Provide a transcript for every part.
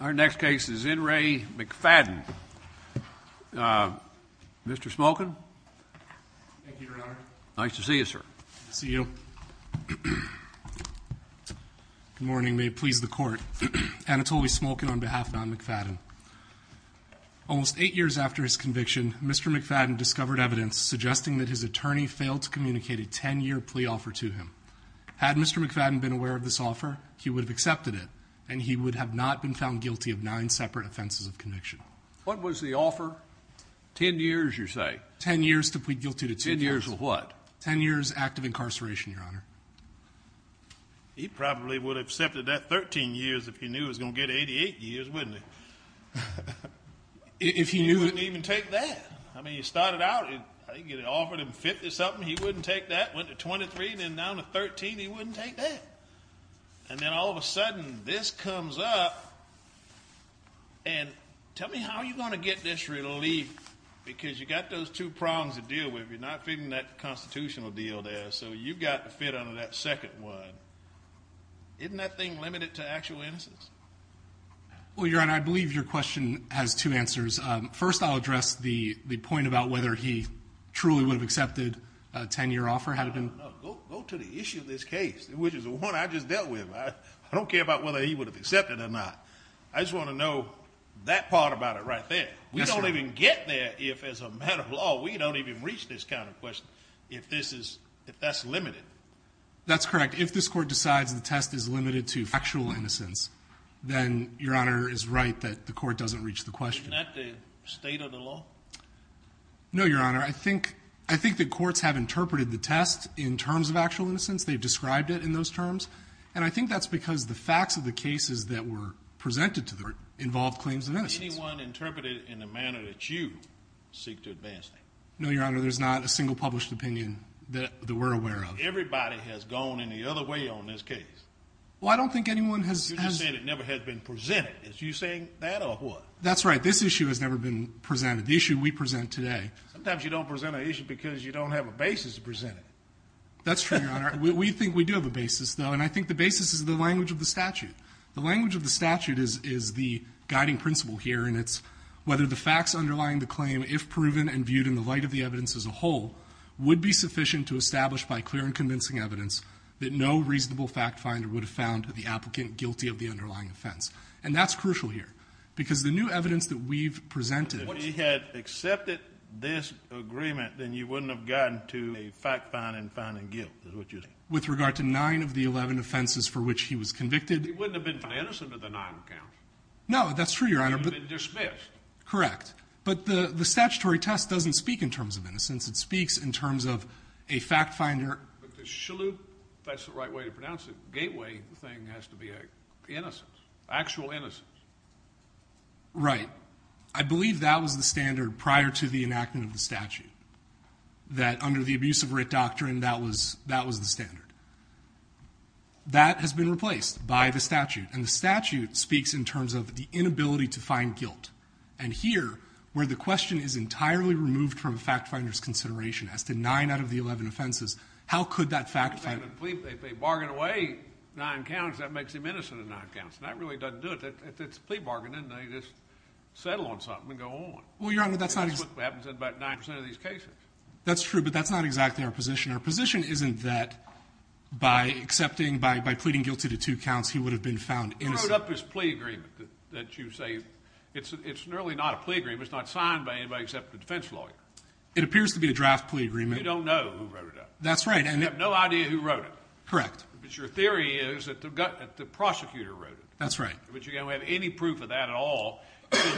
Our next case is N. Ray McFadden. Mr. Smolkin. Thank you, Your Honor. Nice to see you, sir. Nice to see you. Good morning. May it please the Court. Anatoly Smolkin on behalf of John McFadden. Almost eight years after his conviction, Mr. McFadden discovered evidence suggesting that his attorney failed to communicate a ten-year plea offer to him. Had Mr. McFadden been aware of this offer, he would have accepted it, and he would have not been found guilty of nine separate offenses of conviction. What was the offer? Ten years, you say? Ten years to plead guilty to two counts. Ten years of what? Ten years active incarceration, Your Honor. He probably would have accepted that 13 years if he knew he was going to get 88 years, wouldn't he? He wouldn't even take that. I mean, he started out, he offered him 50-something. He wouldn't take that. Went to 23, then down to 13. He wouldn't take that. And then all of a sudden, this comes up. And tell me, how are you going to get this relief? Because you've got those two prongs to deal with. You're not fitting that constitutional deal there, so you've got to fit under that second one. Isn't that thing limited to actual innocence? Well, Your Honor, I believe your question has two answers. First, I'll address the point about whether he truly would have accepted a ten-year offer had it been. No, go to the issue of this case, which is the one I just dealt with. I don't care about whether he would have accepted it or not. I just want to know that part about it right there. We don't even get there if, as a matter of law, we don't even reach this kind of question if that's limited. That's correct. If this Court decides the test is limited to factual innocence, then Your Honor is right that the Court doesn't reach the question. Isn't that the state of the law? No, Your Honor. I think that courts have interpreted the test in terms of actual innocence. They've described it in those terms. And I think that's because the facts of the cases that were presented to them involved claims of innocence. Has anyone interpreted it in the manner that you seek to advance it? No, Your Honor. There's not a single published opinion that we're aware of. Everybody has gone in the other way on this case. Well, I don't think anyone has. You're just saying it never has been presented. Is you saying that or what? That's right. This issue has never been presented, the issue we present today. Sometimes you don't present an issue because you don't have a basis to present it. That's true, Your Honor. We think we do have a basis, though, and I think the basis is the language of the statute. The language of the statute is the guiding principle here, and it's whether the facts underlying the claim, if proven and viewed in the light of the evidence as a whole, would be sufficient to establish by clear and convincing evidence that no reasonable fact finder would have found the applicant guilty of the underlying offense. And that's crucial here because the new evidence that we've presented. If he had accepted this agreement, then you wouldn't have gotten to a fact find and finding guilt is what you're saying. With regard to nine of the 11 offenses for which he was convicted. He wouldn't have been found innocent of the nine accounts. No, that's true, Your Honor. He would have been dismissed. Correct. But the statutory test doesn't speak in terms of innocence. It speaks in terms of a fact finder. But the Shalhoub, if that's the right way to pronounce it, gateway thing has to be innocence. Actual innocence. Right. I believe that was the standard prior to the enactment of the statute. That under the abuse of writ doctrine, that was the standard. That has been replaced by the statute. And the statute speaks in terms of the inability to find guilt. And here, where the question is entirely removed from fact finder's consideration as to nine out of the 11 offenses, how could that fact finder. If they bargain away nine counts, that makes him innocent of nine counts. And that really doesn't do it. It's a plea bargain, isn't it? You just settle on something and go on. Well, Your Honor, that's not exactly. That's what happens in about nine percent of these cases. That's true, but that's not exactly our position. Our position isn't that by accepting, by pleading guilty to two counts, he would have been found innocent. You wrote up this plea agreement that you say it's really not a plea agreement. It's not signed by anybody except the defense lawyer. It appears to be a draft plea agreement. You don't know who wrote it up. That's right. You have no idea who wrote it. Correct. But your theory is that the prosecutor wrote it. That's right. But you don't have any proof of that at all.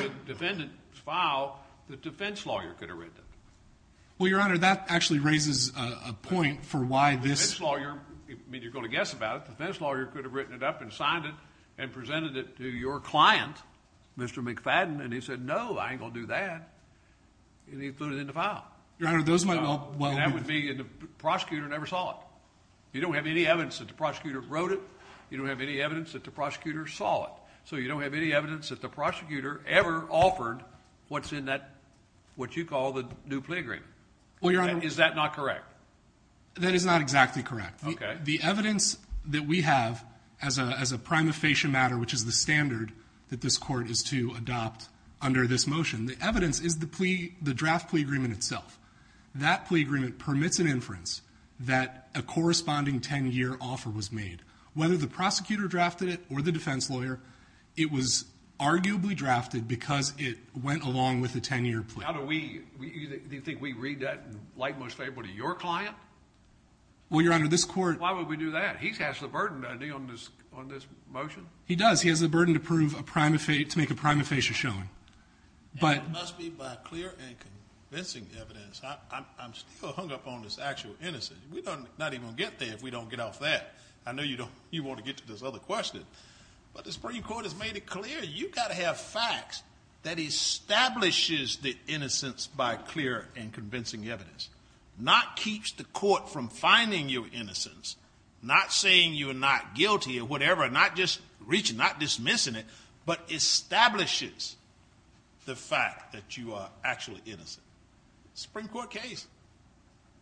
In the defendant's file, the defense lawyer could have written it. Well, Your Honor, that actually raises a point for why this— The defense lawyer—I mean, you're going to guess about it. The defense lawyer could have written it up and signed it and presented it to your client, Mr. McFadden, and he said, no, I ain't going to do that, and he put it in the file. Your Honor, those might well— That would be—and the prosecutor never saw it. You don't have any evidence that the prosecutor wrote it. You don't have any evidence that the prosecutor saw it. So you don't have any evidence that the prosecutor ever offered what's in that—what you call the new plea agreement. Well, Your Honor— Is that not correct? That is not exactly correct. Okay. The evidence that we have as a prima facie matter, which is the standard that this court is to adopt under this motion, the evidence is the draft plea agreement itself. That plea agreement permits an inference that a corresponding 10-year offer was made. Whether the prosecutor drafted it or the defense lawyer, it was arguably drafted because it went along with the 10-year plea. How do we—do you think we read that in the light most favorable to your client? Well, Your Honor, this court— Why would we do that? He has the burden, doesn't he, on this motion? He does. He has the burden to prove a prima facie—to make a prima facie showing. And it must be by clear and convincing evidence. I'm still hung up on this actual innocence. We're not even going to get there if we don't get off that. I know you want to get to this other question, but the Supreme Court has made it clear. You've got to have facts that establishes the innocence by clear and convincing evidence, not keeps the court from finding your innocence, not saying you're not guilty or whatever, not just reaching, not dismissing it, but establishes the fact that you are actually innocent. It's a Supreme Court case.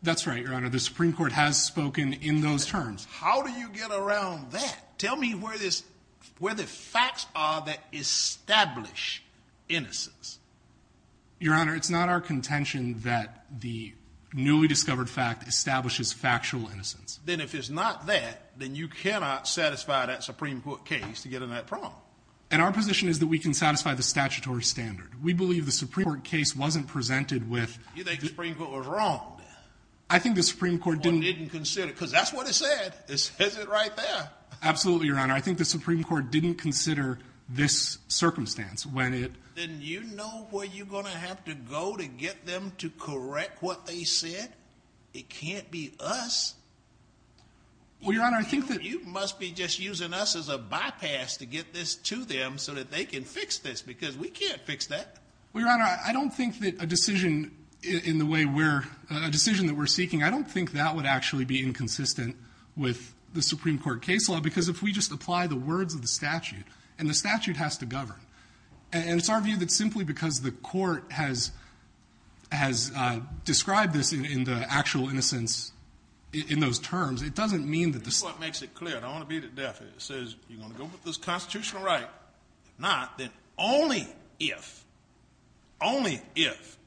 That's right, Your Honor. The Supreme Court has spoken in those terms. How do you get around that? Tell me where the facts are that establish innocence. Your Honor, it's not our contention that the newly discovered fact establishes factual innocence. Then if it's not that, then you cannot satisfy that Supreme Court case to get in that problem. And our position is that we can satisfy the statutory standard. We believe the Supreme Court case wasn't presented with— You think the Supreme Court was wrong? I think the Supreme Court didn't— Or didn't consider, because that's what it said. It says it right there. Absolutely, Your Honor. I think the Supreme Court didn't consider this circumstance when it— Then you know where you're going to have to go to get them to correct what they said? It can't be us. Well, Your Honor, I think that— You must be just using us as a bypass to get this to them so that they can fix this, because we can't fix that. Well, Your Honor, I don't think that a decision in the way we're—a decision that we're seeking, I don't think that would actually be inconsistent with the Supreme Court case law, because if we just apply the words of the statute, and the statute has to govern. And it's our view that simply because the court has described this in the actual innocence, in those terms, it doesn't mean that the— The Supreme Court makes it clear, and I want to beat it deaf here. It says you're going to go with this constitutional right. If not, then only if, only if,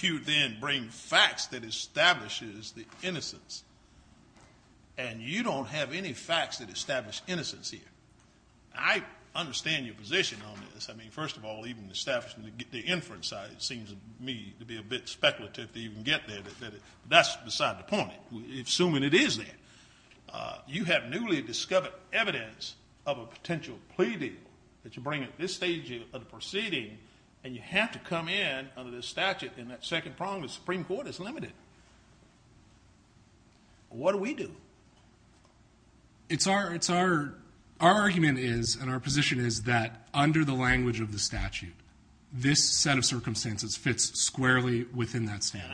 you then bring facts that establishes the innocence. And you don't have any facts that establish innocence here. I understand your position on this. I mean, first of all, even establishing the inference side seems to me to be a bit speculative to even get there. But that's beside the point. Assuming it is there, you have newly discovered evidence of a potential plea deal that you bring at this stage of the proceeding, and you have to come in under this statute in that second prong of the Supreme Court. It's limited. What do we do? It's our—our argument is and our position is that under the language of the statute, this set of circumstances fits squarely within that standard.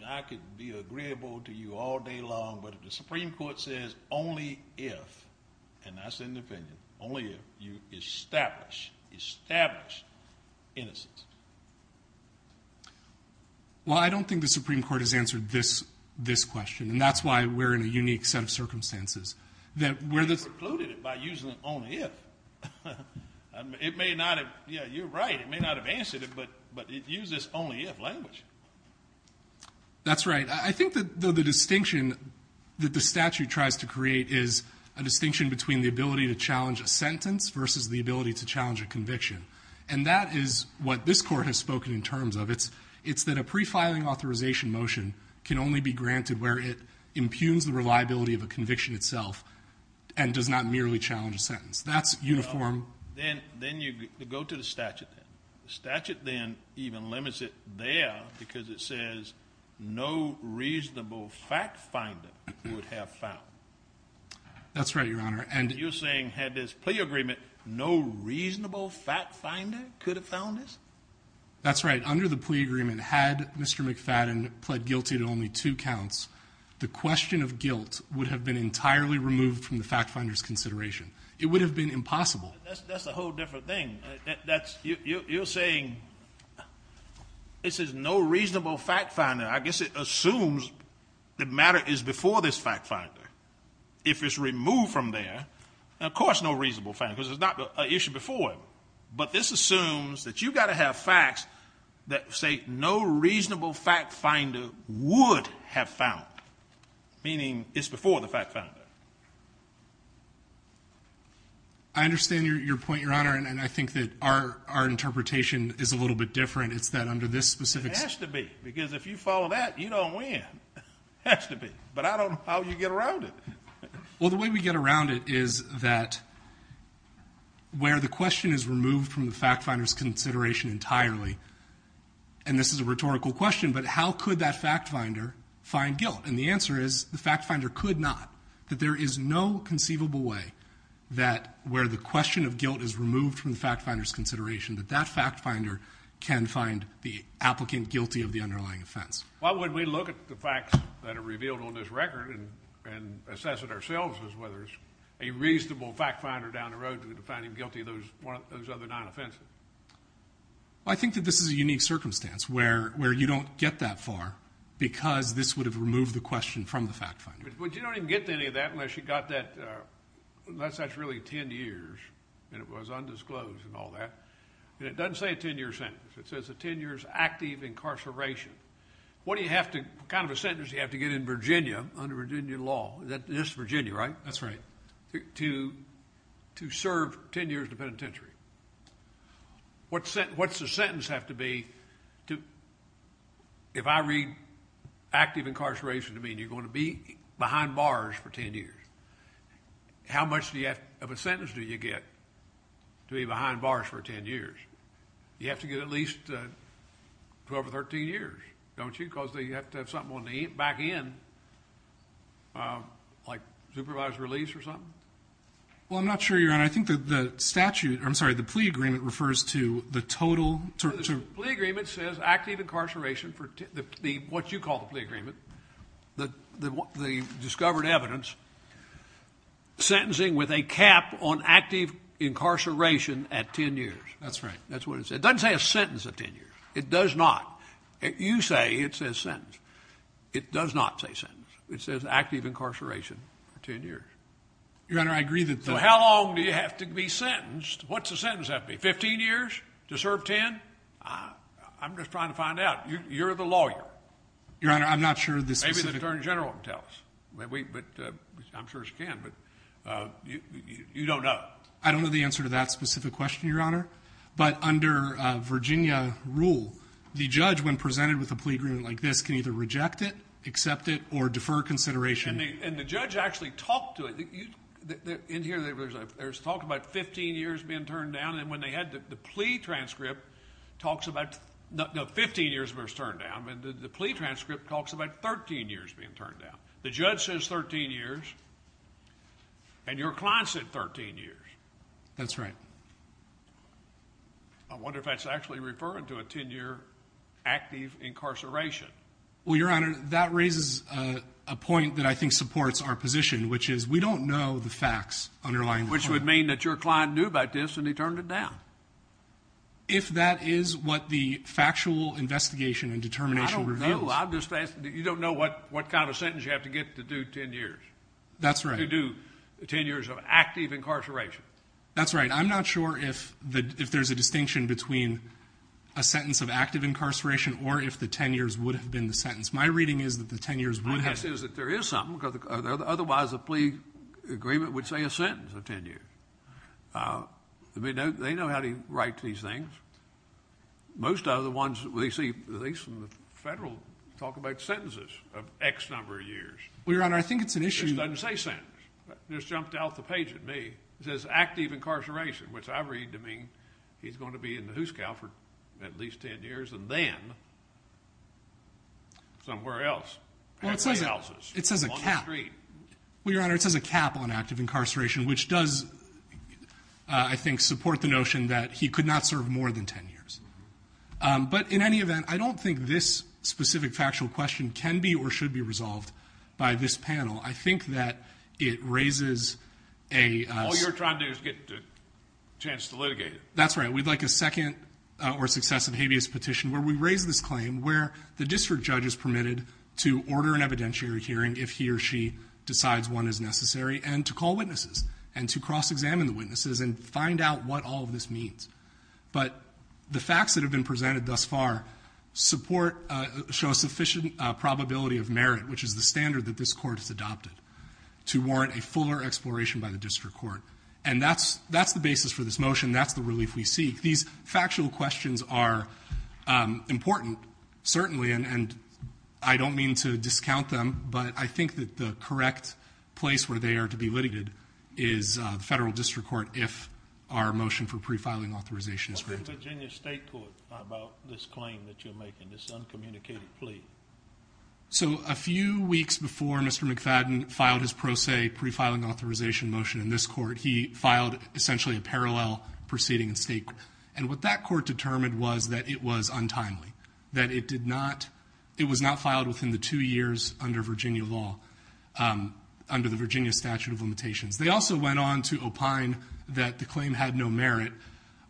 And I could be agreeable to you all day long, but if the Supreme Court says only if, and that's an opinion, only if you establish, establish innocence. Well, I don't think the Supreme Court has answered this question. And that's why we're in a unique set of circumstances. They precluded it by using only if. It may not have—yeah, you're right. It may not have answered it, but it uses only if language. That's right. I think that the distinction that the statute tries to create is a distinction between the ability to challenge a sentence versus the ability to challenge a conviction. And that is what this Court has spoken in terms of. It's that a prefiling authorization motion can only be granted where it impugns the reliability of a conviction itself and does not merely challenge a sentence. That's uniform. Then you go to the statute. The statute then even limits it there because it says no reasonable fact finder would have found. That's right, Your Honor. And you're saying had this plea agreement, no reasonable fact finder could have found this? That's right. If under the plea agreement had Mr. McFadden pled guilty to only two counts, the question of guilt would have been entirely removed from the fact finder's consideration. It would have been impossible. That's a whole different thing. You're saying this is no reasonable fact finder. I guess it assumes the matter is before this fact finder. If it's removed from there, of course no reasonable fact finder because it's not an issue before it. But this assumes that you've got to have facts that say no reasonable fact finder would have found, meaning it's before the fact finder. I understand your point, Your Honor, and I think that our interpretation is a little bit different. It's that under this specific statute. It has to be because if you follow that, you don't win. It has to be. But I don't know how you get around it. Well, the way we get around it is that where the question is removed from the fact finder's consideration entirely, and this is a rhetorical question, but how could that fact finder find guilt? And the answer is the fact finder could not, that there is no conceivable way that where the question of guilt is removed from the fact finder's consideration, that that fact finder can find the applicant guilty of the underlying offense. Why wouldn't we look at the facts that are revealed on this record and assess it ourselves as whether it's a reasonable fact finder down the road that would find him guilty of those other nine offenses? Well, I think that this is a unique circumstance where you don't get that far because this would have removed the question from the fact finder. But you don't even get to any of that unless you got that, unless that's really 10 years and it was undisclosed and all that. And it doesn't say a 10-year sentence. It says a 10-years active incarceration. What do you have to, what kind of a sentence do you have to get in Virginia under Virginia law? This is Virginia, right? That's right. To serve 10 years in the penitentiary. What's the sentence have to be to, if I read active incarceration to mean you're going to be behind bars for 10 years, how much of a sentence do you get to be behind bars for 10 years? You have to get at least 12 or 13 years, don't you, because you have to have something on the back end like supervised release or something? Well, I'm not sure, Your Honor. I think that the statute, I'm sorry, the plea agreement refers to the total. The plea agreement says active incarceration, what you call the plea agreement, the discovered evidence, sentencing with a cap on active incarceration at 10 years. That's right. That's what it says. It doesn't say a sentence of 10 years. It does not. You say it says sentence. It does not say sentence. It says active incarceration for 10 years. Your Honor, I agree that. So how long do you have to be sentenced? What's the sentence have to be, 15 years to serve 10? I'm just trying to find out. You're the lawyer. Your Honor, I'm not sure the specific. Maybe the attorney general can tell us. I'm sure she can, but you don't know. I don't know the answer to that specific question, Your Honor. But under Virginia rule, the judge, when presented with a plea agreement like this, can either reject it, accept it, or defer consideration. And the judge actually talked to it. In here, there's talk about 15 years being turned down, and when they had the plea transcript talks about 15 years was turned down. The plea transcript talks about 13 years being turned down. The judge says 13 years, and your client said 13 years. That's right. I wonder if that's actually referring to a 10-year active incarceration. Well, Your Honor, that raises a point that I think supports our position, which is we don't know the facts underlying the claim. Which would mean that your client knew about this, and he turned it down. If that is what the factual investigation and determination reveals. I don't know. You don't know what kind of sentence you have to get to do 10 years. That's right. To do 10 years of active incarceration. That's right. I'm not sure if there's a distinction between a sentence of active incarceration or if the 10 years would have been the sentence. My reading is that the 10 years would have been. My guess is that there is something, because otherwise a plea agreement would say a sentence of 10 years. They know how to write these things. Most of the ones we see, at least in the federal, talk about sentences of X number of years. Well, Your Honor, I think it's an issue. It just doesn't say sentence. It just jumped out the page at me. It says active incarceration, which I read to mean he's going to be in the hoose cow for at least 10 years, and then somewhere else. It says a cap. On the street. Well, Your Honor, it says a cap on active incarceration, which does, I think, support the notion that he could not serve more than 10 years. But in any event, I don't think this specific factual question can be or should be resolved by this panel. I think that it raises a. All you're trying to do is get a chance to litigate it. That's right. We'd like a second or successive habeas petition where we raise this claim where the district judge is permitted to order an evidentiary hearing if he or she decides one is necessary and to call witnesses and to cross-examine the witnesses and find out what all of this means. But the facts that have been presented thus far show a sufficient probability of merit, which is the standard that this court has adopted to warrant a fuller exploration by the district court. And that's the basis for this motion. That's the relief we seek. These factual questions are important, certainly. And I don't mean to discount them. But I think that the correct place where they are to be litigated is the federal district court if our motion for pre-filing authorization is granted. What did Virginia state court about this claim that you're making, this uncommunicated plea? So a few weeks before Mr. McFadden filed his pro se pre-filing authorization motion in this court, he filed essentially a parallel proceeding in state court. And what that court determined was that it was untimely, that it did not, it was not filed within the two years under Virginia law, under the Virginia statute of limitations. They also went on to opine that the claim had no merit.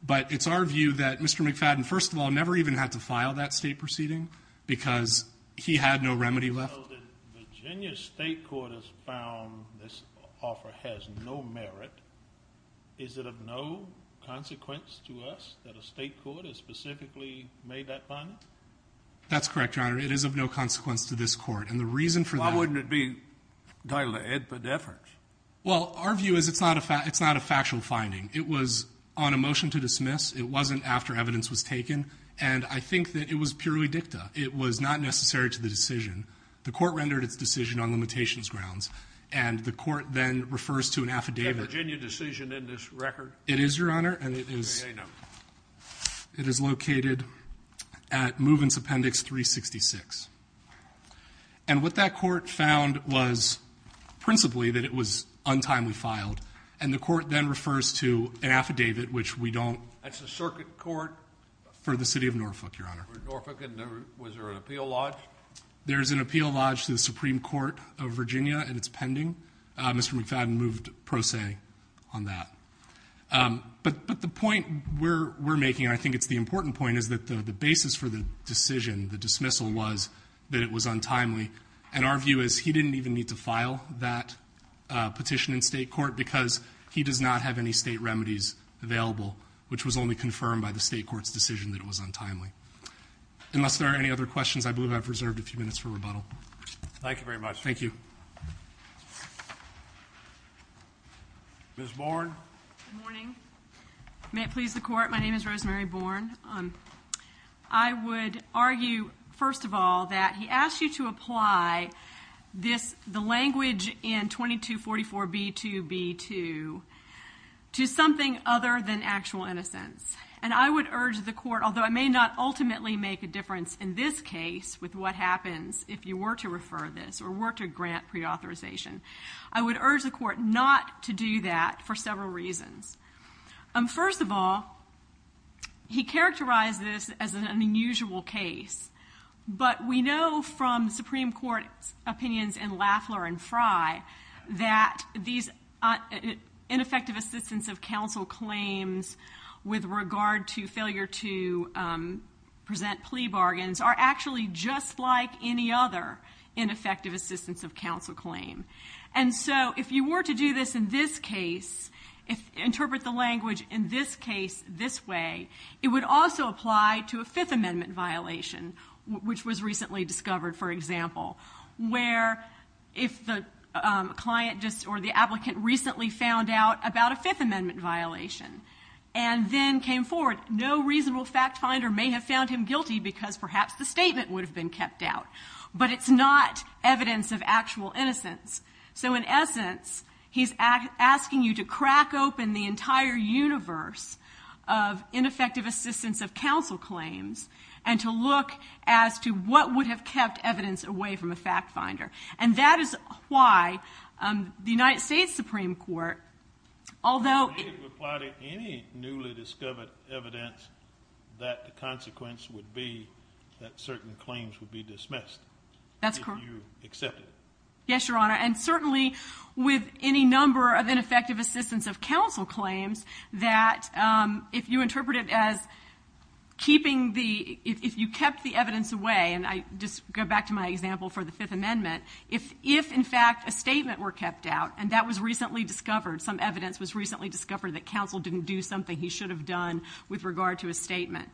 But it's our view that Mr. McFadden, first of all, never even had to file that state proceeding because he had no remedy left. So the Virginia state court has found this offer has no merit. Is it of no consequence to us that a state court has specifically made that claim? That's correct, Your Honor. It is of no consequence to this court. And the reason for that. Why wouldn't it be entitled to epidephrics? Well, our view is it's not a factual finding. It was on a motion to dismiss. It wasn't after evidence was taken. And I think that it was purely dicta. It was not necessary to the decision. The court rendered its decision on limitations grounds. And the court then refers to an affidavit. Is that Virginia decision in this record? It is, Your Honor. And it is located at Movens Appendix 366. And what that court found was principally that it was untimely filed. And the court then refers to an affidavit, which we don't. That's the circuit court? For the city of Norfolk, Your Honor. Was there an appeal lodged? There is an appeal lodged to the Supreme Court of Virginia, and it's pending. Mr. McFadden moved pro se on that. But the point we're making, and I think it's the important point, is that the basis for the decision, the dismissal, was that it was untimely. And our view is he didn't even need to file that petition in state court because he does not have any state remedies available, which was only confirmed by the state court's decision that it was untimely. Unless there are any other questions, I believe I've reserved a few minutes for rebuttal. Thank you very much. Thank you. Ms. Bourne. Good morning. May it please the court, my name is Rosemary Bourne. I would argue, first of all, that he asked you to apply the language in 2244B2B2 to something other than actual innocence. And I would urge the court, although it may not ultimately make a difference in this case with what happens if you were to refer this or were to grant preauthorization, I would urge the court not to do that for several reasons. First of all, he characterized this as an unusual case. But we know from Supreme Court opinions in Lafler and Fry that these ineffective assistance of counsel claims with regard to failure to present plea bargains are actually just like any other ineffective assistance of counsel claim. And so if you were to do this in this case, interpret the language in this case this way, it would also apply to a Fifth Amendment violation, which was recently discovered, for example, where if the client or the applicant recently found out about a Fifth Amendment violation and then came forward, no reasonable fact finder may have found him guilty because perhaps the statement would have been kept out. But it's not evidence of actual innocence. So in essence, he's asking you to crack open the entire universe of ineffective assistance of counsel claims and to look as to what would have kept evidence away from a fact finder. And that is why the United States Supreme Court, although... It would apply to any newly discovered evidence that the consequence would be that certain claims would be dismissed. That's correct. If you accept it. Yes, Your Honor. And certainly with any number of ineffective assistance of counsel claims that if you interpret it as keeping the... If you kept the evidence away, and I just go back to my example for the Fifth Amendment, if, in fact, a statement were kept out, and that was recently discovered, some evidence was recently discovered that counsel didn't do something he should have done with regard to a statement,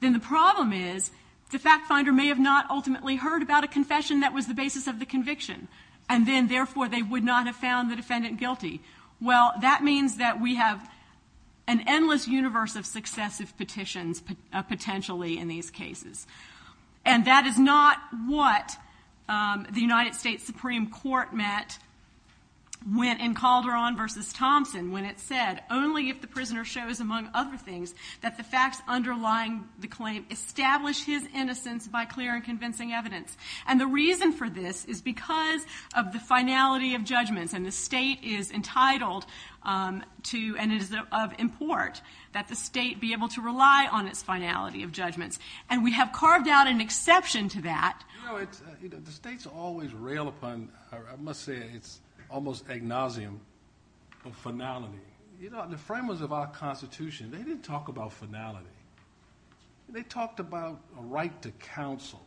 then the problem is the fact finder may have not ultimately heard about a confession that was the basis of the conviction. And then, therefore, they would not have found the defendant guilty. Well, that means that we have an endless universe of successive petitions, potentially, in these cases. And that is not what the United States Supreme Court met in Calderon v. Thompson when it said, only if the prisoner shows, among other things, that the facts underlying the claim establish his innocence by clear and convincing evidence. And the reason for this is because of the finality of judgments, and the state is entitled to, and it is of import, that the state be able to rely on its finality of judgments. And we have carved out an exception to that. You know, the states always rail upon, I must say, it's almost agnosium of finality. You know, the framers of our Constitution, they didn't talk about finality. They talked about a right to counsel,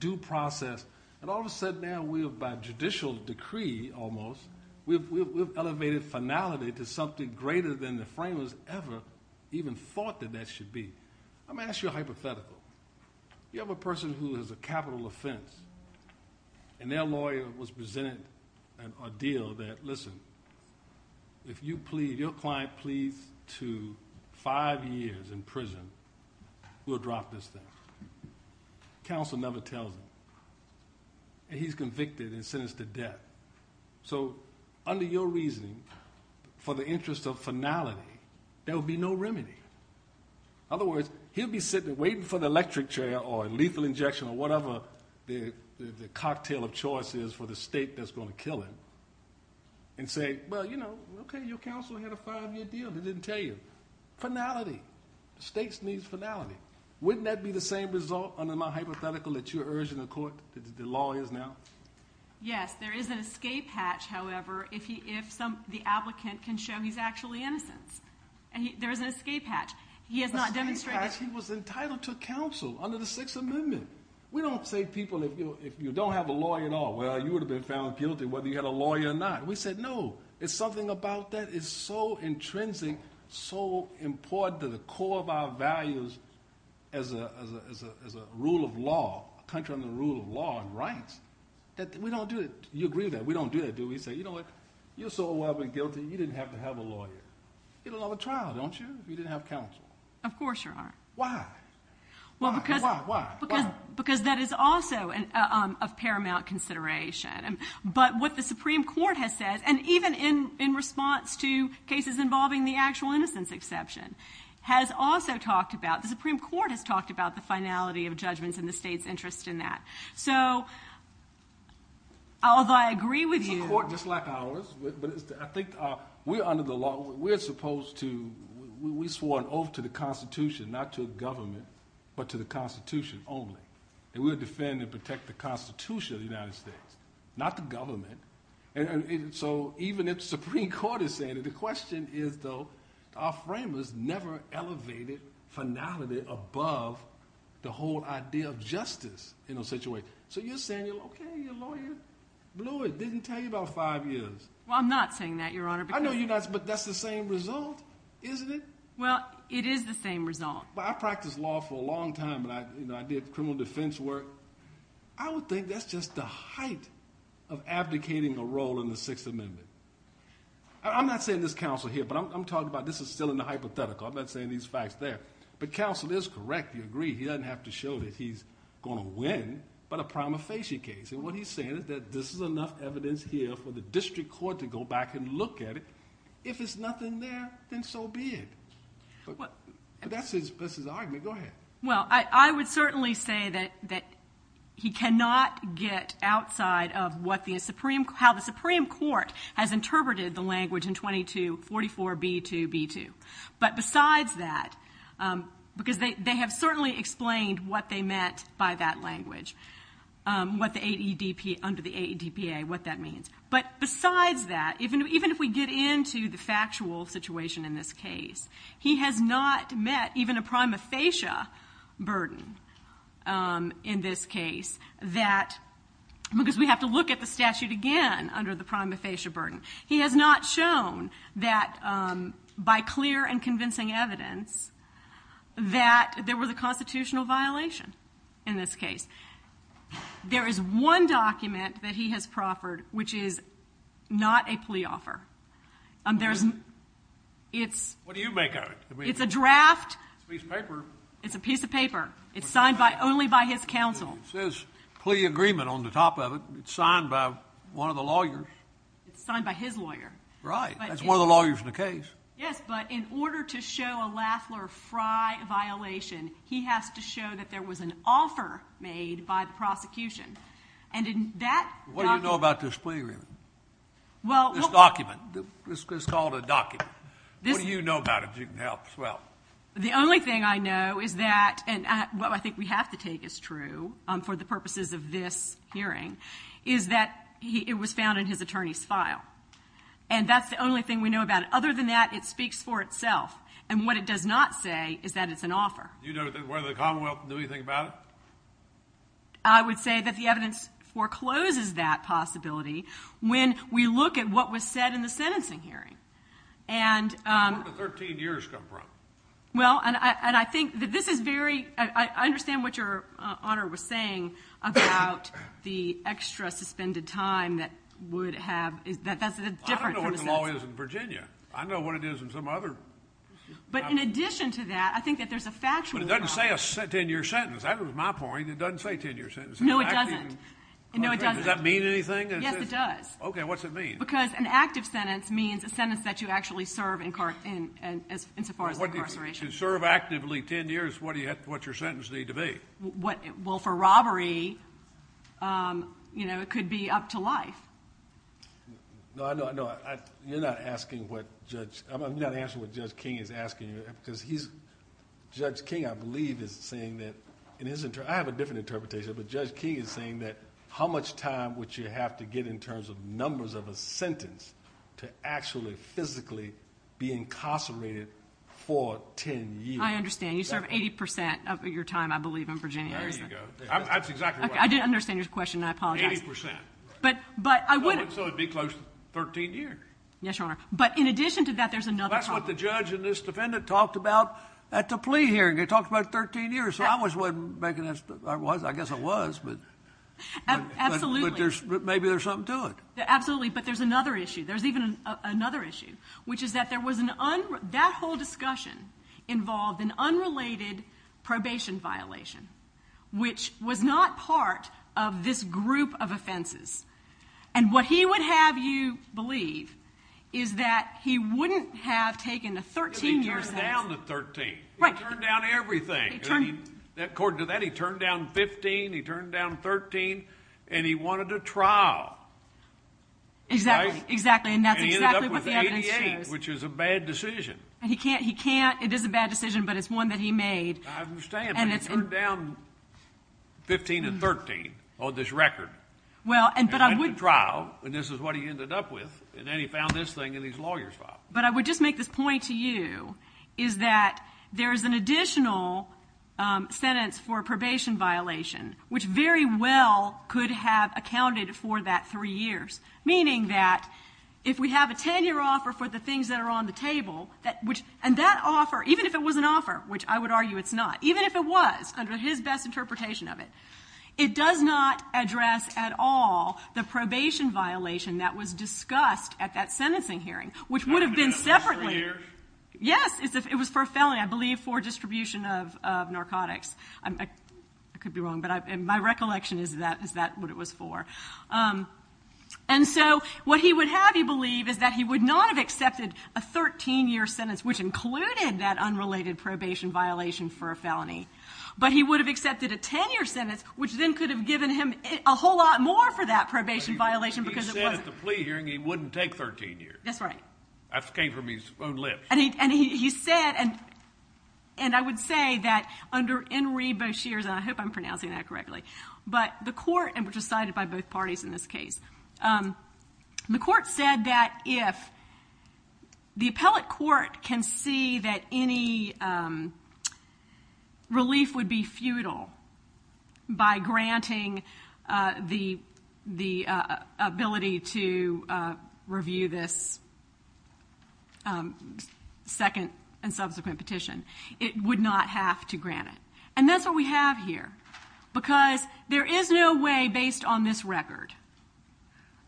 due process. And all of a sudden now, by judicial decree, almost, we've elevated finality to something greater than the framers ever even thought that that should be. I mean, that's your hypothetical. You have a person who has a capital offense, and their lawyer was presented an ordeal that, listen, if you plead, your client pleads to five years in prison, we'll drop this thing. Counsel never tells him. And he's convicted and sentenced to death. So under your reasoning, for the interest of finality, there will be no remedy. In other words, he'll be sitting there waiting for the electric chair or lethal injection or whatever the cocktail of choice is for the state that's going to kill him, and say, well, you know, okay, your counsel had a five-year deal. They didn't tell you. Finality. The states needs finality. Wouldn't that be the same result under my hypothetical that you're urging the court, the lawyers now? Yes. There is an escape hatch, however, if the applicant can show he's actually innocent. There is an escape hatch. He has not demonstrated. An escape hatch? He was entitled to counsel under the Sixth Amendment. We don't say people, if you don't have a lawyer at all, well, you would have been found guilty, whether you had a lawyer or not. We said no. There's something about that. It's so intrinsic, so important to the core of our values as a rule of law, a country under the rule of law and rights, that we don't do it. You agree with that? We don't do that, do we? We say, you know what, you're so aware of being guilty, you didn't have to have a lawyer. You don't have a trial, don't you, if you didn't have counsel? Of course, Your Honor. Why? Why? Why? Because that is also of paramount consideration. But what the Supreme Court has said, and even in response to cases involving the actual innocence exception, has also talked about, the Supreme Court has talked about the finality of judgments and the state's interest in that. So, although I agree with you. It's a court just like ours, but I think we're under the law. We're supposed to, we swore an oath to the Constitution, not to the government, but to the Constitution only. And we would defend and protect the Constitution of the United States, not the government. So, even if the Supreme Court is saying it, the question is, though, our framers never elevated finality above the whole idea of justice in a situation. So, you're saying, okay, your lawyer blew it, didn't tell you about five years. Well, I'm not saying that, Your Honor. I know you're not, but that's the same result, isn't it? Well, it is the same result. Well, I practiced law for a long time, and I did criminal defense work. I would think that's just the height of abdicating a role in the Sixth Amendment. I'm not saying this counsel here, but I'm talking about this is still in the hypothetical. I'm not saying these facts there. But counsel is correct. He agreed. He doesn't have to show that he's going to win, but a prima facie case. And what he's saying is that this is enough evidence here for the district court to go back and look at it. If there's nothing there, then so be it. But that's his argument. Go ahead. Well, I would certainly say that he cannot get outside of how the Supreme Court has interpreted the language in 2244B2B2. But besides that, because they have certainly explained what they meant by that language, under the AEDPA, what that means. But besides that, even if we get into the factual situation in this case, he has not met even a prima facie burden in this case, because we have to look at the statute again under the prima facie burden. He has not shown that by clear and convincing evidence that there was a constitutional violation in this case. There is one document that he has proffered which is not a plea offer. What do you make of it? It's a draft. It's a piece of paper. It's a piece of paper. It's signed only by his counsel. It says plea agreement on the top of it. It's signed by one of the lawyers. It's signed by his lawyer. Right. That's one of the lawyers in the case. Yes, but in order to show a Lafler-Frey violation, he has to show that there was an offer made by the prosecution. And in that document. What do you know about this plea agreement? This document. It's called a document. What do you know about it? You can help as well. The only thing I know is that, and what I think we have to take as true for the purposes of this hearing, is that it was found in his attorney's file. And that's the only thing we know about it. Other than that, it speaks for itself. And what it does not say is that it's an offer. Do you know whether the Commonwealth knew anything about it? I would say that the evidence forecloses that possibility when we look at what was said in the sentencing hearing. Where did the 13 years come from? Well, and I think that this is very, I understand what your Honor was saying about the extra suspended time that would have, I don't know what the law is in Virginia. I know what it is in some other. But in addition to that, I think that there's a factual. But it doesn't say a 10-year sentence. That was my point. It doesn't say 10-year sentence. No, it doesn't. Does that mean anything? Yes, it does. Okay, what's it mean? Because an active sentence means a sentence that you actually serve insofar as incarceration. To serve actively 10 years, what's your sentence need to be? Well, for robbery, it could be up to life. No, I know. You're not asking what Judge, I'm not answering what Judge King is asking you. Because he's, Judge King I believe is saying that, I have a different interpretation, but Judge King is saying that how much time would you have to get in terms of numbers of a sentence to actually physically be incarcerated for 10 years? I understand. You serve 80% of your time, I believe, in Virginia. There you go. That's exactly right. I didn't understand your question, and I apologize. Eighty percent. But I would. So it would be close to 13 years. Yes, Your Honor. But in addition to that, there's another problem. That's what the judge and this defendant talked about at the plea hearing. They talked about 13 years. So I was making that, I guess I was. Absolutely. But maybe there's something to it. Absolutely. But there's another issue. There's even another issue, which is that there was an, that whole discussion involved an unrelated probation violation, which was not part of this group of offenses. And what he would have you believe is that he wouldn't have taken a 13-year sentence. But he turned down the 13. Right. He turned down everything. According to that, he turned down 15, he turned down 13, and he wanted a trial. Exactly. Exactly. And that's exactly what the evidence shows. And he ended up with 88, which is a bad decision. And he can't, he can't, it is a bad decision, but it's one that he made. I understand, but he turned down 15 and 13 on this record. Well, but I would. And went to trial, and this is what he ended up with. And then he found this thing in his lawyer's file. But I would just make this point to you, is that there is an additional sentence for a probation violation, which very well could have accounted for that three years. Meaning that if we have a 10-year offer for the things that are on the table, and that offer, even if it was an offer, which I would argue it's not, even if it was, under his best interpretation of it, it does not address at all the probation violation that was discussed at that sentencing hearing, which would have been separately. Three years? Yes. It was for a felony, I believe for distribution of narcotics. I could be wrong, but my recollection is that that's what it was for. And so what he would have, you believe, is that he would not have accepted a 13-year sentence, which included that unrelated probation violation for a felony, but he would have accepted a 10-year sentence, which then could have given him a whole lot more for that probation violation because it wasn't. He said at the plea hearing he wouldn't take 13 years. That's right. That came from his own lips. And he said, and I would say that under Henry Boucher's, and I hope I'm pronouncing that correctly, but the court, which was sided by both parties in this case, the court said that if the appellate court can see that any relief would be futile by granting the ability to review this second and subsequent petition, it would not have to grant it. And that's what we have here because there is no way, based on this record,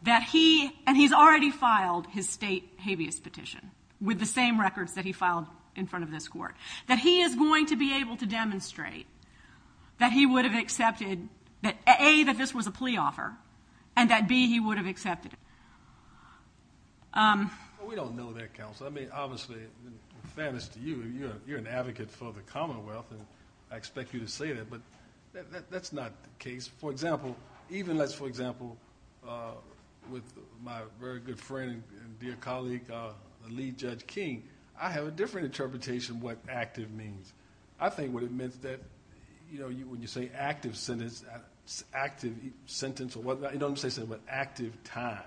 that he, and he's already filed his state habeas petition with the same records that he filed in front of this court, that he is going to be able to demonstrate that he would have accepted that, A, that this was a plea offer, and that, B, he would have accepted it. We don't know that, counsel. I mean, obviously, in fairness to you, you're an advocate for the Commonwealth, and I expect you to say that, but that's not the case. For example, even as, for example, with my very good friend and dear colleague, the lead judge, King, I have a different interpretation of what active means. I think what it means that, you know, when you say active sentence, active sentence or whatever, you don't say something like active time.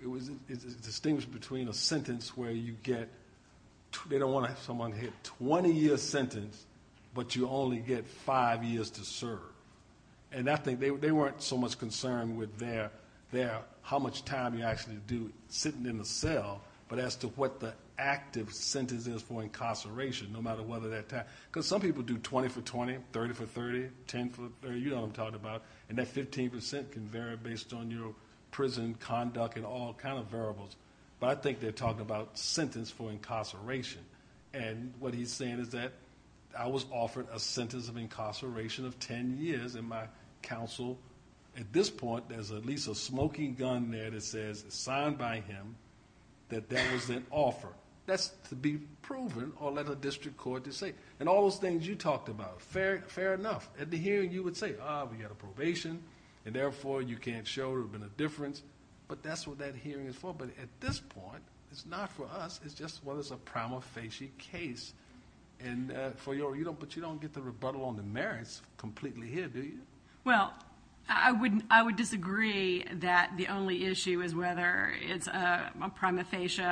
It's distinguished between a sentence where you get, they don't want to have someone hit 20-year sentence, but you only get five years to serve. And I think they weren't so much concerned with their, how much time you actually do sitting in the cell, but as to what the active sentence is for incarceration, no matter whether that time. Because some people do 20 for 20, 30 for 30, 10 for 30, you know what I'm talking about. And that 15% can vary based on your prison conduct and all kind of variables. But I think they're talking about sentence for incarceration. And what he's saying is that I was offered a sentence of incarceration of 10 years, and my counsel, at this point, there's at least a smoking gun there that says, signed by him, that that was an offer. That's to be proven or let a district court to say. And all those things you talked about, fair enough. At the hearing, you would say, ah, we got a probation, and therefore you can't show there's been a difference. But that's what that hearing is for. But at this point, it's not for us. It's just whether it's a prima facie case. But you don't get the rebuttal on the merits completely here, do you? Well, I would disagree that the only issue is whether it's a prima facie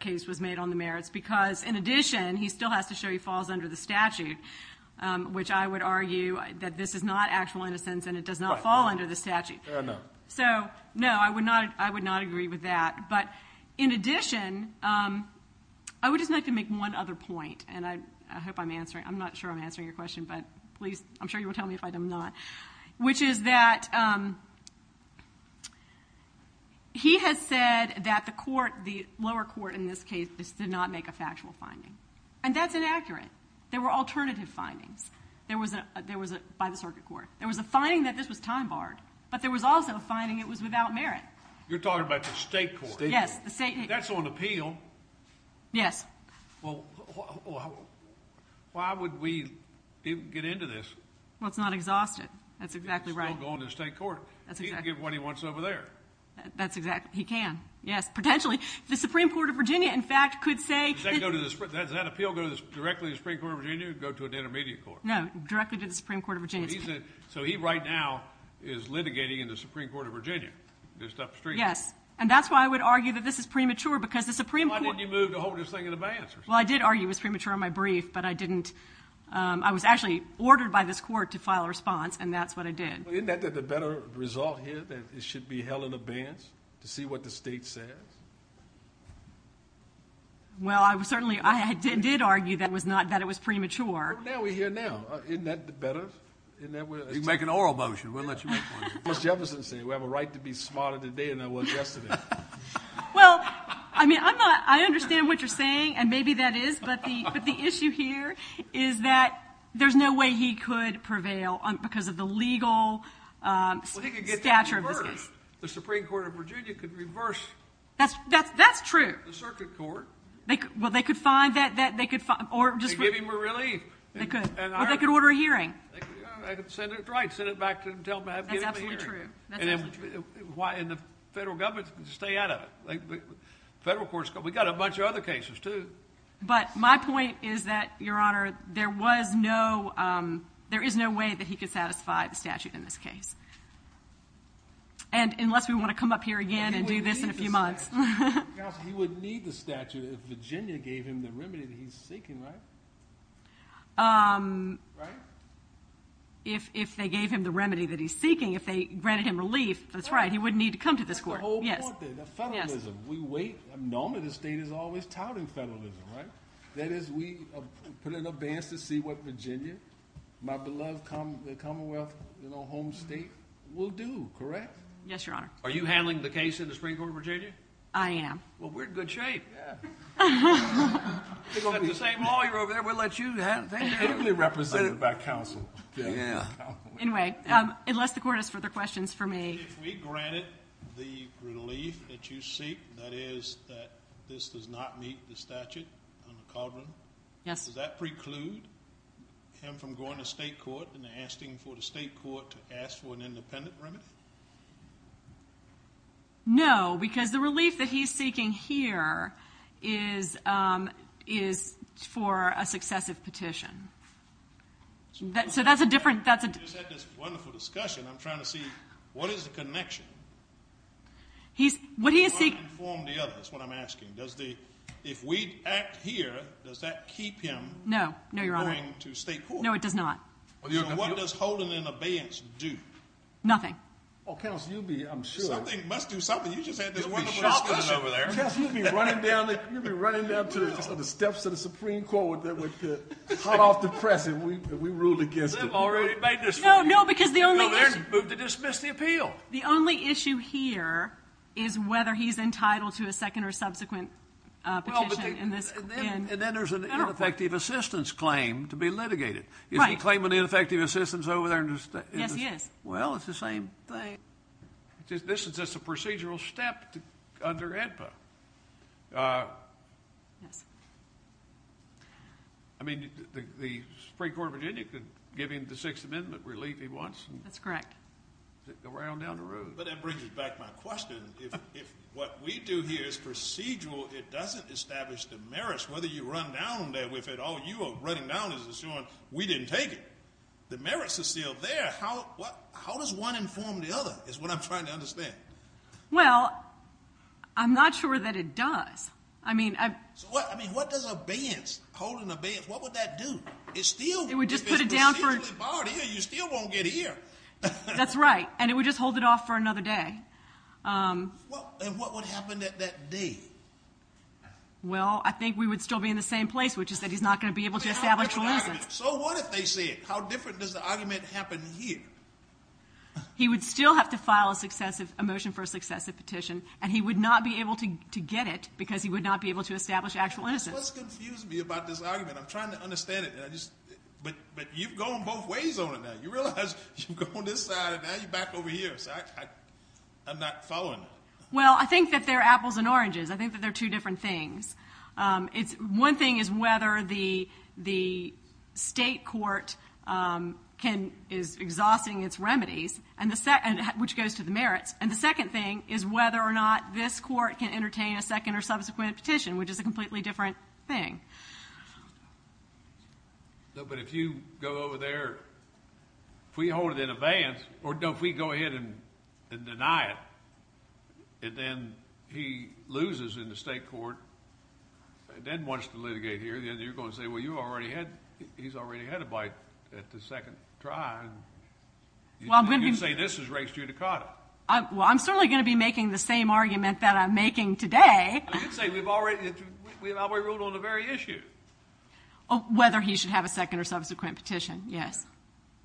case was made on the merits. Because, in addition, he still has to show he falls under the statute, which I would argue that this is not actual innocence and it does not fall under the statute. So, no, I would not agree with that. But, in addition, I would just like to make one other point, and I hope I'm answering. I'm not sure I'm answering your question, but please, I'm sure you will tell me if I am not. Which is that he has said that the court, the lower court in this case, did not make a factual finding. And that's inaccurate. There were alternative findings by the circuit court. There was a finding that this was time barred, but there was also a finding it was without merit. You're talking about the state court. Yes, the state. That's on appeal. Yes. Well, why would we get into this? Well, it's not exhausted. That's exactly right. It's still going to the state court. That's exactly right. He can get what he wants over there. That's exactly right. He can. Yes, potentially. The Supreme Court of Virginia, in fact, could say. Does that appeal go directly to the Supreme Court of Virginia or go to an intermediate court? No, directly to the Supreme Court of Virginia. So he right now is litigating in the Supreme Court of Virginia, just upstream. Yes. And that's why I would argue that this is premature, because the Supreme Court. Why didn't you move to hold this thing in abeyance? Well, I did argue it was premature in my brief, but I didn't. I was actually ordered by this court to file a response, and that's what I did. Isn't that the better result here, that it should be held in abeyance to see what the state says? Well, I certainly did argue that it was premature. Well, now we're here now. Isn't that better? You can make an oral motion. We'll let you make one. What's Jefferson saying? We have a right to be smarter today than I was yesterday. Well, I mean, I understand what you're saying, and maybe that is, but the issue here is that there's no way he could prevail because of the legal stature of this case. Well, he could get it reversed. The Supreme Court of Virginia could reverse. That's true. The circuit court. Well, they could find that. They could give him a relief. They could. Or they could order a hearing. They could send it right. Send it back to him and tell him to give him a hearing. That's absolutely true. And the federal government could stay out of it. Federal courts could. We've got a bunch of other cases, too. But my point is that, Your Honor, there is no way that he could satisfy the statute in this case, unless we want to come up here again and do this in a few months. Because he would need the statute if Virginia gave him the remedy that he's seeking, right? Right? If they gave him the remedy that he's seeking, if they granted him relief, that's right. He wouldn't need to come to this court. That's the whole point there, the federalism. We wait. Normally, the state is always touting federalism, right? That is, we put it in abeyance to see what Virginia, my beloved Commonwealth home state, will do, correct? Yes, Your Honor. Are you handling the case in the Supreme Court of Virginia? I am. Well, we're in good shape. Yeah. We've got the same lawyer over there. We'll let you handle it. I'm heavily represented by counsel. Yeah. Anyway, unless the court has further questions for me. If we granted the relief that you seek, that is, that this does not meet the statute on the cauldron, does that preclude him from going to state court and asking for the state court to ask for an independent remedy? No, because the relief that he's seeking here is for a successive petition. So that's a different – We just had this wonderful discussion. I'm trying to see what is the connection. What he is seeking – I want to inform the others, is what I'm asking. If we act here, does that keep him from going to state court? No. No, Your Honor. No, it does not. So what does holding an abeyance do? Nothing. Well, counsel, you'll be, I'm sure – Something must do something. You just had this wonderful discussion over there. Counsel, you'll be running down to the steps of the Supreme Court with the hot-off-the-press, and we ruled against it. They've already made this rule. No, because the only – No, they're moved to dismiss the appeal. The only issue here is whether he's entitled to a second or subsequent petition in this – And then there's an ineffective assistance claim to be litigated. Right. Is he claiming ineffective assistance over there? Yes, he is. Well, it's the same thing. This is just a procedural step under AEDPA. Yes. I mean, the Supreme Court of Virginia could give him the Sixth Amendment relief he wants. That's correct. Go right on down the road. But that brings me back to my question. If what we do here is procedural, it doesn't establish the merits. Whether you run down there with it or you are running down is assuring we didn't take it. The merits are still there. How does one inform the other is what I'm trying to understand. Well, I'm not sure that it does. I mean, I – So what – I mean, what does abeyance, holding abeyance, what would that do? It still – It would just put it down for – You're barred here. You still won't get here. That's right. And it would just hold it off for another day. Well, and what would happen at that day? Well, I think we would still be in the same place, which is that he's not going to be able to establish – So what if they say it? How different does the argument happen here? He would still have to file a motion for a successive petition, and he would not be able to get it because he would not be able to establish actual innocence. What's confusing me about this argument? I'm trying to understand it. But you've gone both ways on it now. You realize you've gone this side, and now you're back over here. So I'm not following it. Well, I think that they're apples and oranges. I think that they're two different things. One thing is whether the state court is exhausting its remedies, which goes to the merits. And the second thing is whether or not this court can entertain a second or subsequent petition, which is a completely different thing. But if you go over there, if we hold it in advance, or if we go ahead and deny it, and then he loses in the state court and then wants to litigate here, then you're going to say, well, you already had – he's already had a bite at the second try. You'd say this is race judicata. Well, I'm certainly going to be making the same argument that I'm making today. But you'd say we've already ruled on the very issue. Whether he should have a second or subsequent petition, yes.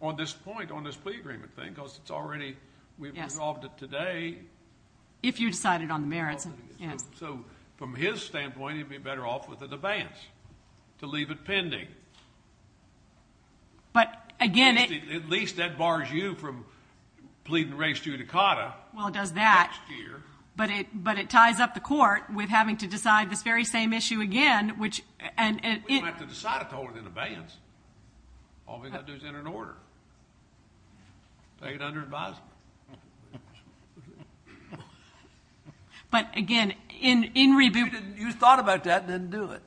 On this point, on this plea agreement thing, because it's already – we've resolved it today. If you decided on the merits, yes. So from his standpoint, he'd be better off with an advance to leave it pending. But, again, it – At least that bars you from pleading race judicata next year. Well, it does that, but it ties up the court with having to decide this very same issue again, which – We don't have to decide it to hold it in advance. All we've got to do is enter an order, take it under advisement. But, again, in – You thought about that and didn't do it.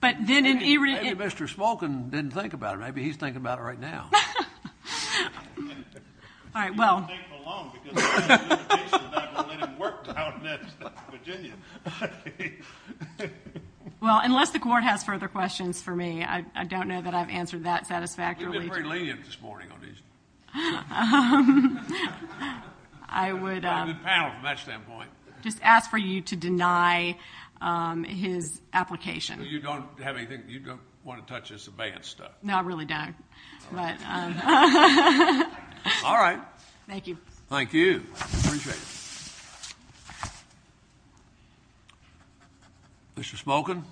But then in – Maybe Mr. Smolkin didn't think about it. Maybe he's thinking about it right now. All right, well – He won't take it alone because the petition is not going to let him work down in Virginia. Well, unless the court has further questions for me, I don't know that I've answered that satisfactorily. You've been very lenient this morning on these. I would – I'm a good panel from that standpoint. Just ask for you to deny his application. You don't have anything – You don't want to touch this advanced stuff? No, I really don't. All right. Thank you. Thank you. Mr. Smolkin.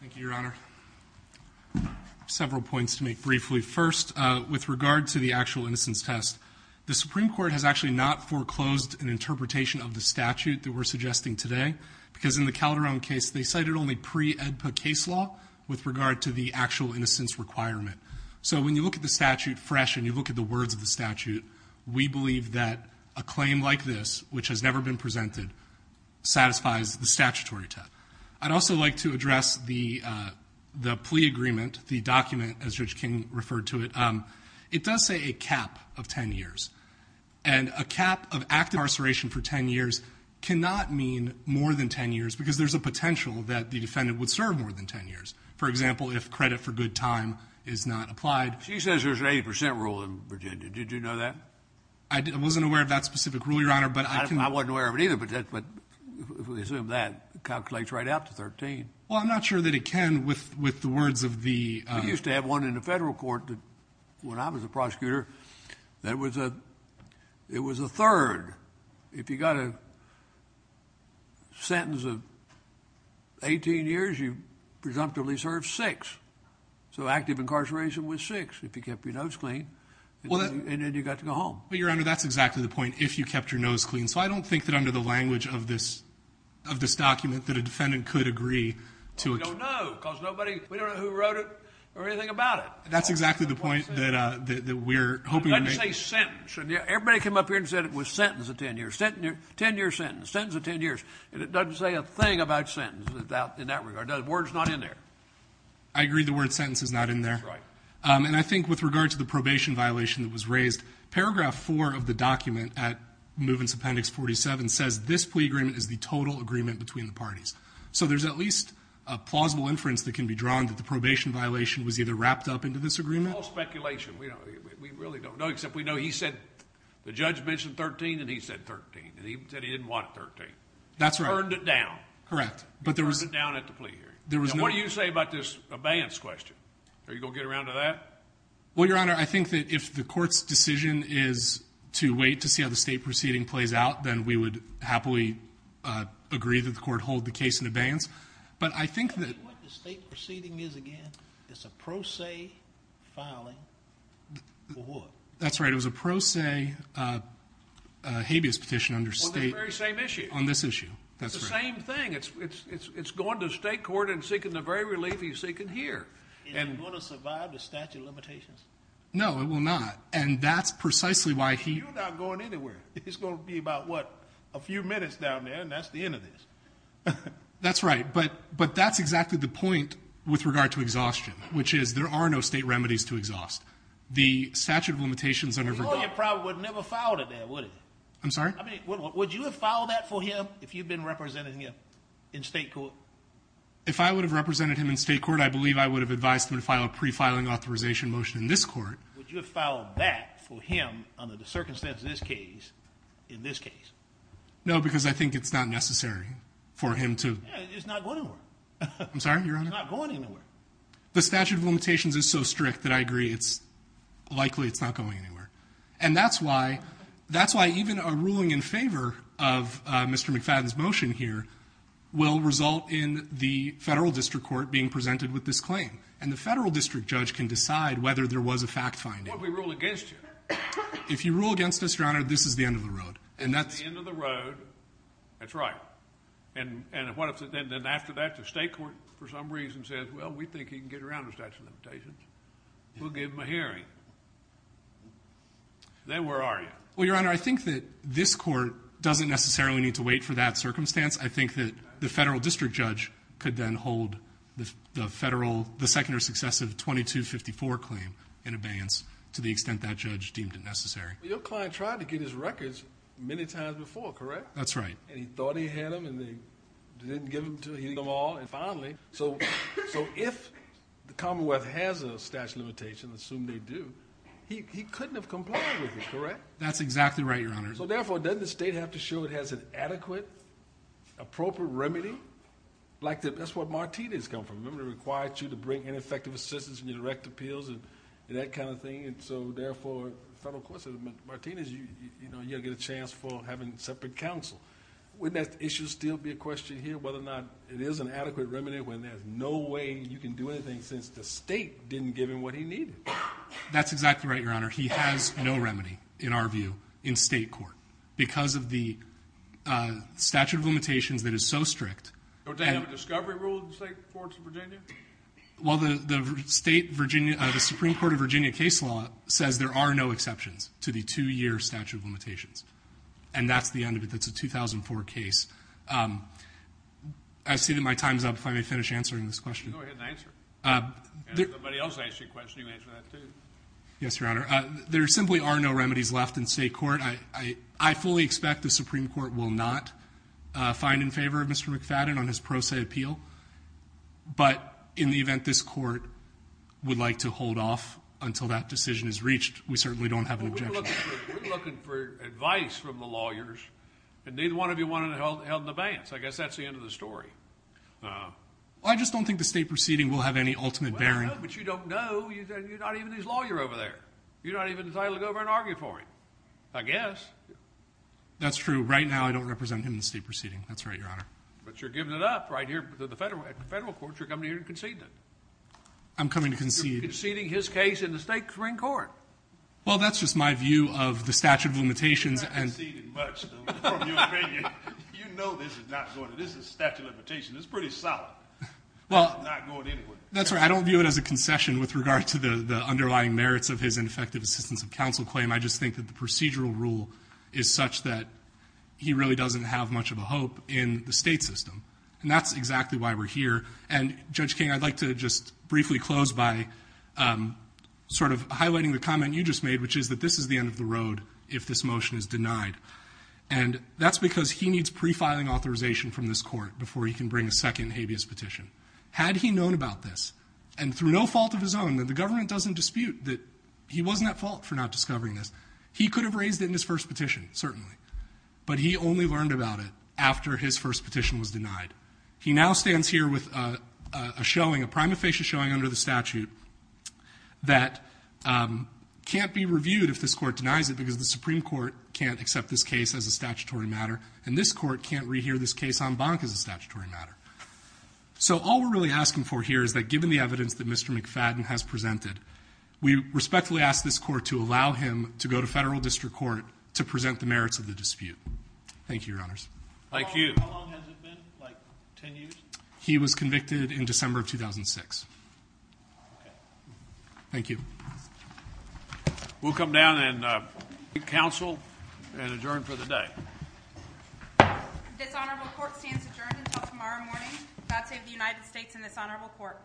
Thank you, Your Honor. Several points to make briefly. First, with regard to the actual innocence test, the Supreme Court has actually not foreclosed an interpretation of the statute that we're suggesting today because in the Calderon case, they cited only pre-AEDPA case law with regard to the actual innocence requirement. So when you look at the statute fresh and you look at the words of the statute, we believe that a claim like this, which has never been presented, satisfies the statutory test. I'd also like to address the plea agreement, the document, as Judge King referred to it. It does say a cap of 10 years. And a cap of active incarceration for 10 years cannot mean more than 10 years because there's a potential that the defendant would serve more than 10 years. For example, if credit for good time is not applied. She says there's an 80 percent rule in Virginia. Did you know that? I wasn't aware of that specific rule, Your Honor, but I can – I wasn't aware of it either, but if we assume that, it calculates right out to 13. Well, I'm not sure that it can with the words of the – I used to have one in the federal court when I was a prosecutor. That was a – it was a third. If you got a sentence of 18 years, you presumptively served six. So active incarceration was six if you kept your nose clean and then you got to go home. Well, Your Honor, that's exactly the point, if you kept your nose clean. So I don't think that under the language of this document that a defendant could agree to – We don't know because nobody – we don't know who wrote it or anything about it. That's exactly the point that we're hoping to make. It doesn't say sentence. Everybody came up here and said it was sentence of 10 years. Ten-year sentence. Sentence of 10 years. And it doesn't say a thing about sentence in that regard. The word's not in there. I agree the word sentence is not in there. That's right. And I think with regard to the probation violation that was raised, this plea agreement is the total agreement between the parties. So there's at least a plausible inference that can be drawn that the probation violation was either wrapped up into this agreement – It's all speculation. We really don't know except we know he said – the judge mentioned 13 and he said 13. And he said he didn't want 13. That's right. He turned it down. Correct. He turned it down at the plea hearing. Now, what do you say about this abeyance question? Are you going to get around to that? Well, Your Honor, I think that if the court's decision is to wait to see how the state proceeding plays out, then we would happily agree that the court hold the case in abeyance. But I think that – What the state proceeding is, again, is a pro se filing for what? That's right. It was a pro se habeas petition under state – On that very same issue. On this issue. That's right. It's the same thing. It's going to the state court and seeking the very relief he's seeking here. Is it going to survive the statute of limitations? No, it will not. And that's precisely why he – You're not going anywhere. It's going to be about, what, a few minutes down there, and that's the end of this. That's right. But that's exactly the point with regard to exhaustion, which is there are no state remedies to exhaust. The statute of limitations under – Well, you probably would have never filed it there, would you? I'm sorry? I mean, would you have filed that for him if you'd been representing him in state court? If I would have represented him in state court, I believe I would have advised him to file a pre-filing authorization motion in this court. Would you have filed that for him under the circumstances of this case in this case? No, because I think it's not necessary for him to – Yeah, it's not going anywhere. I'm sorry, Your Honor? It's not going anywhere. The statute of limitations is so strict that I agree it's – likely it's not going anywhere. And that's why – that's why even a ruling in favor of Mr. McFadden's motion here will result in the federal district court being presented with this claim. And the federal district judge can decide whether there was a fact-finding. What if we rule against you? If you rule against us, Your Honor, this is the end of the road. And that's – This is the end of the road. That's right. And what if then after that the state court for some reason says, well, we think he can get around the statute of limitations. We'll give him a hearing. Then where are you? Well, Your Honor, I think that this court doesn't necessarily need to wait for that circumstance. I think that the federal district judge could then hold the federal – the second or successive 2254 claim in abeyance to the extent that judge deemed it necessary. Your client tried to get his records many times before, correct? That's right. And he thought he had them and he didn't give them all. And finally, so if the Commonwealth has a statute of limitation, assume they do, he couldn't have complied with it, correct? That's exactly right, Your Honor. So, therefore, doesn't the state have to show it has an adequate, appropriate remedy? Like that's where Martinez comes from. Remember he required you to bring ineffective assistance in your direct appeals and that kind of thing. And so, therefore, the federal courts said, Martinez, you'll get a chance for having separate counsel. Wouldn't that issue still be a question here whether or not it is an adequate remedy when there's no way you can do anything since the state didn't give him what he needed? That's exactly right, Your Honor. He has no remedy, in our view, in state court. Because of the statute of limitations that is so strict. Don't they have a discovery rule in state courts in Virginia? Well, the state Virginia, the Supreme Court of Virginia case law says there are no exceptions to the two-year statute of limitations. And that's the end of it. That's a 2004 case. I see that my time is up. If I may finish answering this question. Go ahead and answer. If somebody else asks you a question, you answer that, too. Yes, Your Honor. There simply are no remedies left in state court. I fully expect the Supreme Court will not find in favor of Mr. McFadden on his pro se appeal. But in the event this court would like to hold off until that decision is reached, we certainly don't have an objection. Well, we're looking for advice from the lawyers. And neither one of you wanted to hold an abeyance. I guess that's the end of the story. Well, I just don't think the state proceeding will have any ultimate bearing. No, but you don't know. You're not even his lawyer over there. You're not even entitled to go over and argue for him. I guess. That's true. Right now, I don't represent him in the state proceeding. That's right, Your Honor. But you're giving it up right here at the federal courts. You're coming here to concede it. I'm coming to concede. You're conceding his case in the state Supreme Court. Well, that's just my view of the statute of limitations. I'm not conceding much from your opinion. You know this is not going to, this is a statute of limitations. It's pretty solid. It's not going anywhere. That's right. I don't view it as a concession with regard to the underlying merits of his ineffective assistance of counsel claim. I just think that the procedural rule is such that he really doesn't have much of a hope in the state system. And that's exactly why we're here. And, Judge King, I'd like to just briefly close by sort of highlighting the comment you just made, which is that this is the end of the road if this motion is denied. And that's because he needs prefiling authorization from this court before he can bring a second habeas petition. Had he known about this, and through no fault of his own, that the government doesn't dispute that he wasn't at fault for not discovering this, he could have raised it in his first petition, certainly. But he only learned about it after his first petition was denied. He now stands here with a showing, a prima facie showing under the statute that can't be reviewed if this court denies it because the Supreme Court can't accept this case as a statutory matter, and this court can't rehear this case en banc as a statutory matter. So all we're really asking for here is that given the evidence that Mr. McFadden has presented, we respectfully ask this court to allow him to go to federal district court to present the merits of the dispute. Thank you, Your Honors. Thank you. How long has it been, like 10 years? He was convicted in December of 2006. Okay. Thank you. We'll come down and take counsel and adjourn for the day. Dishonorable court stands adjourned until tomorrow morning. God save the United States and this honorable court.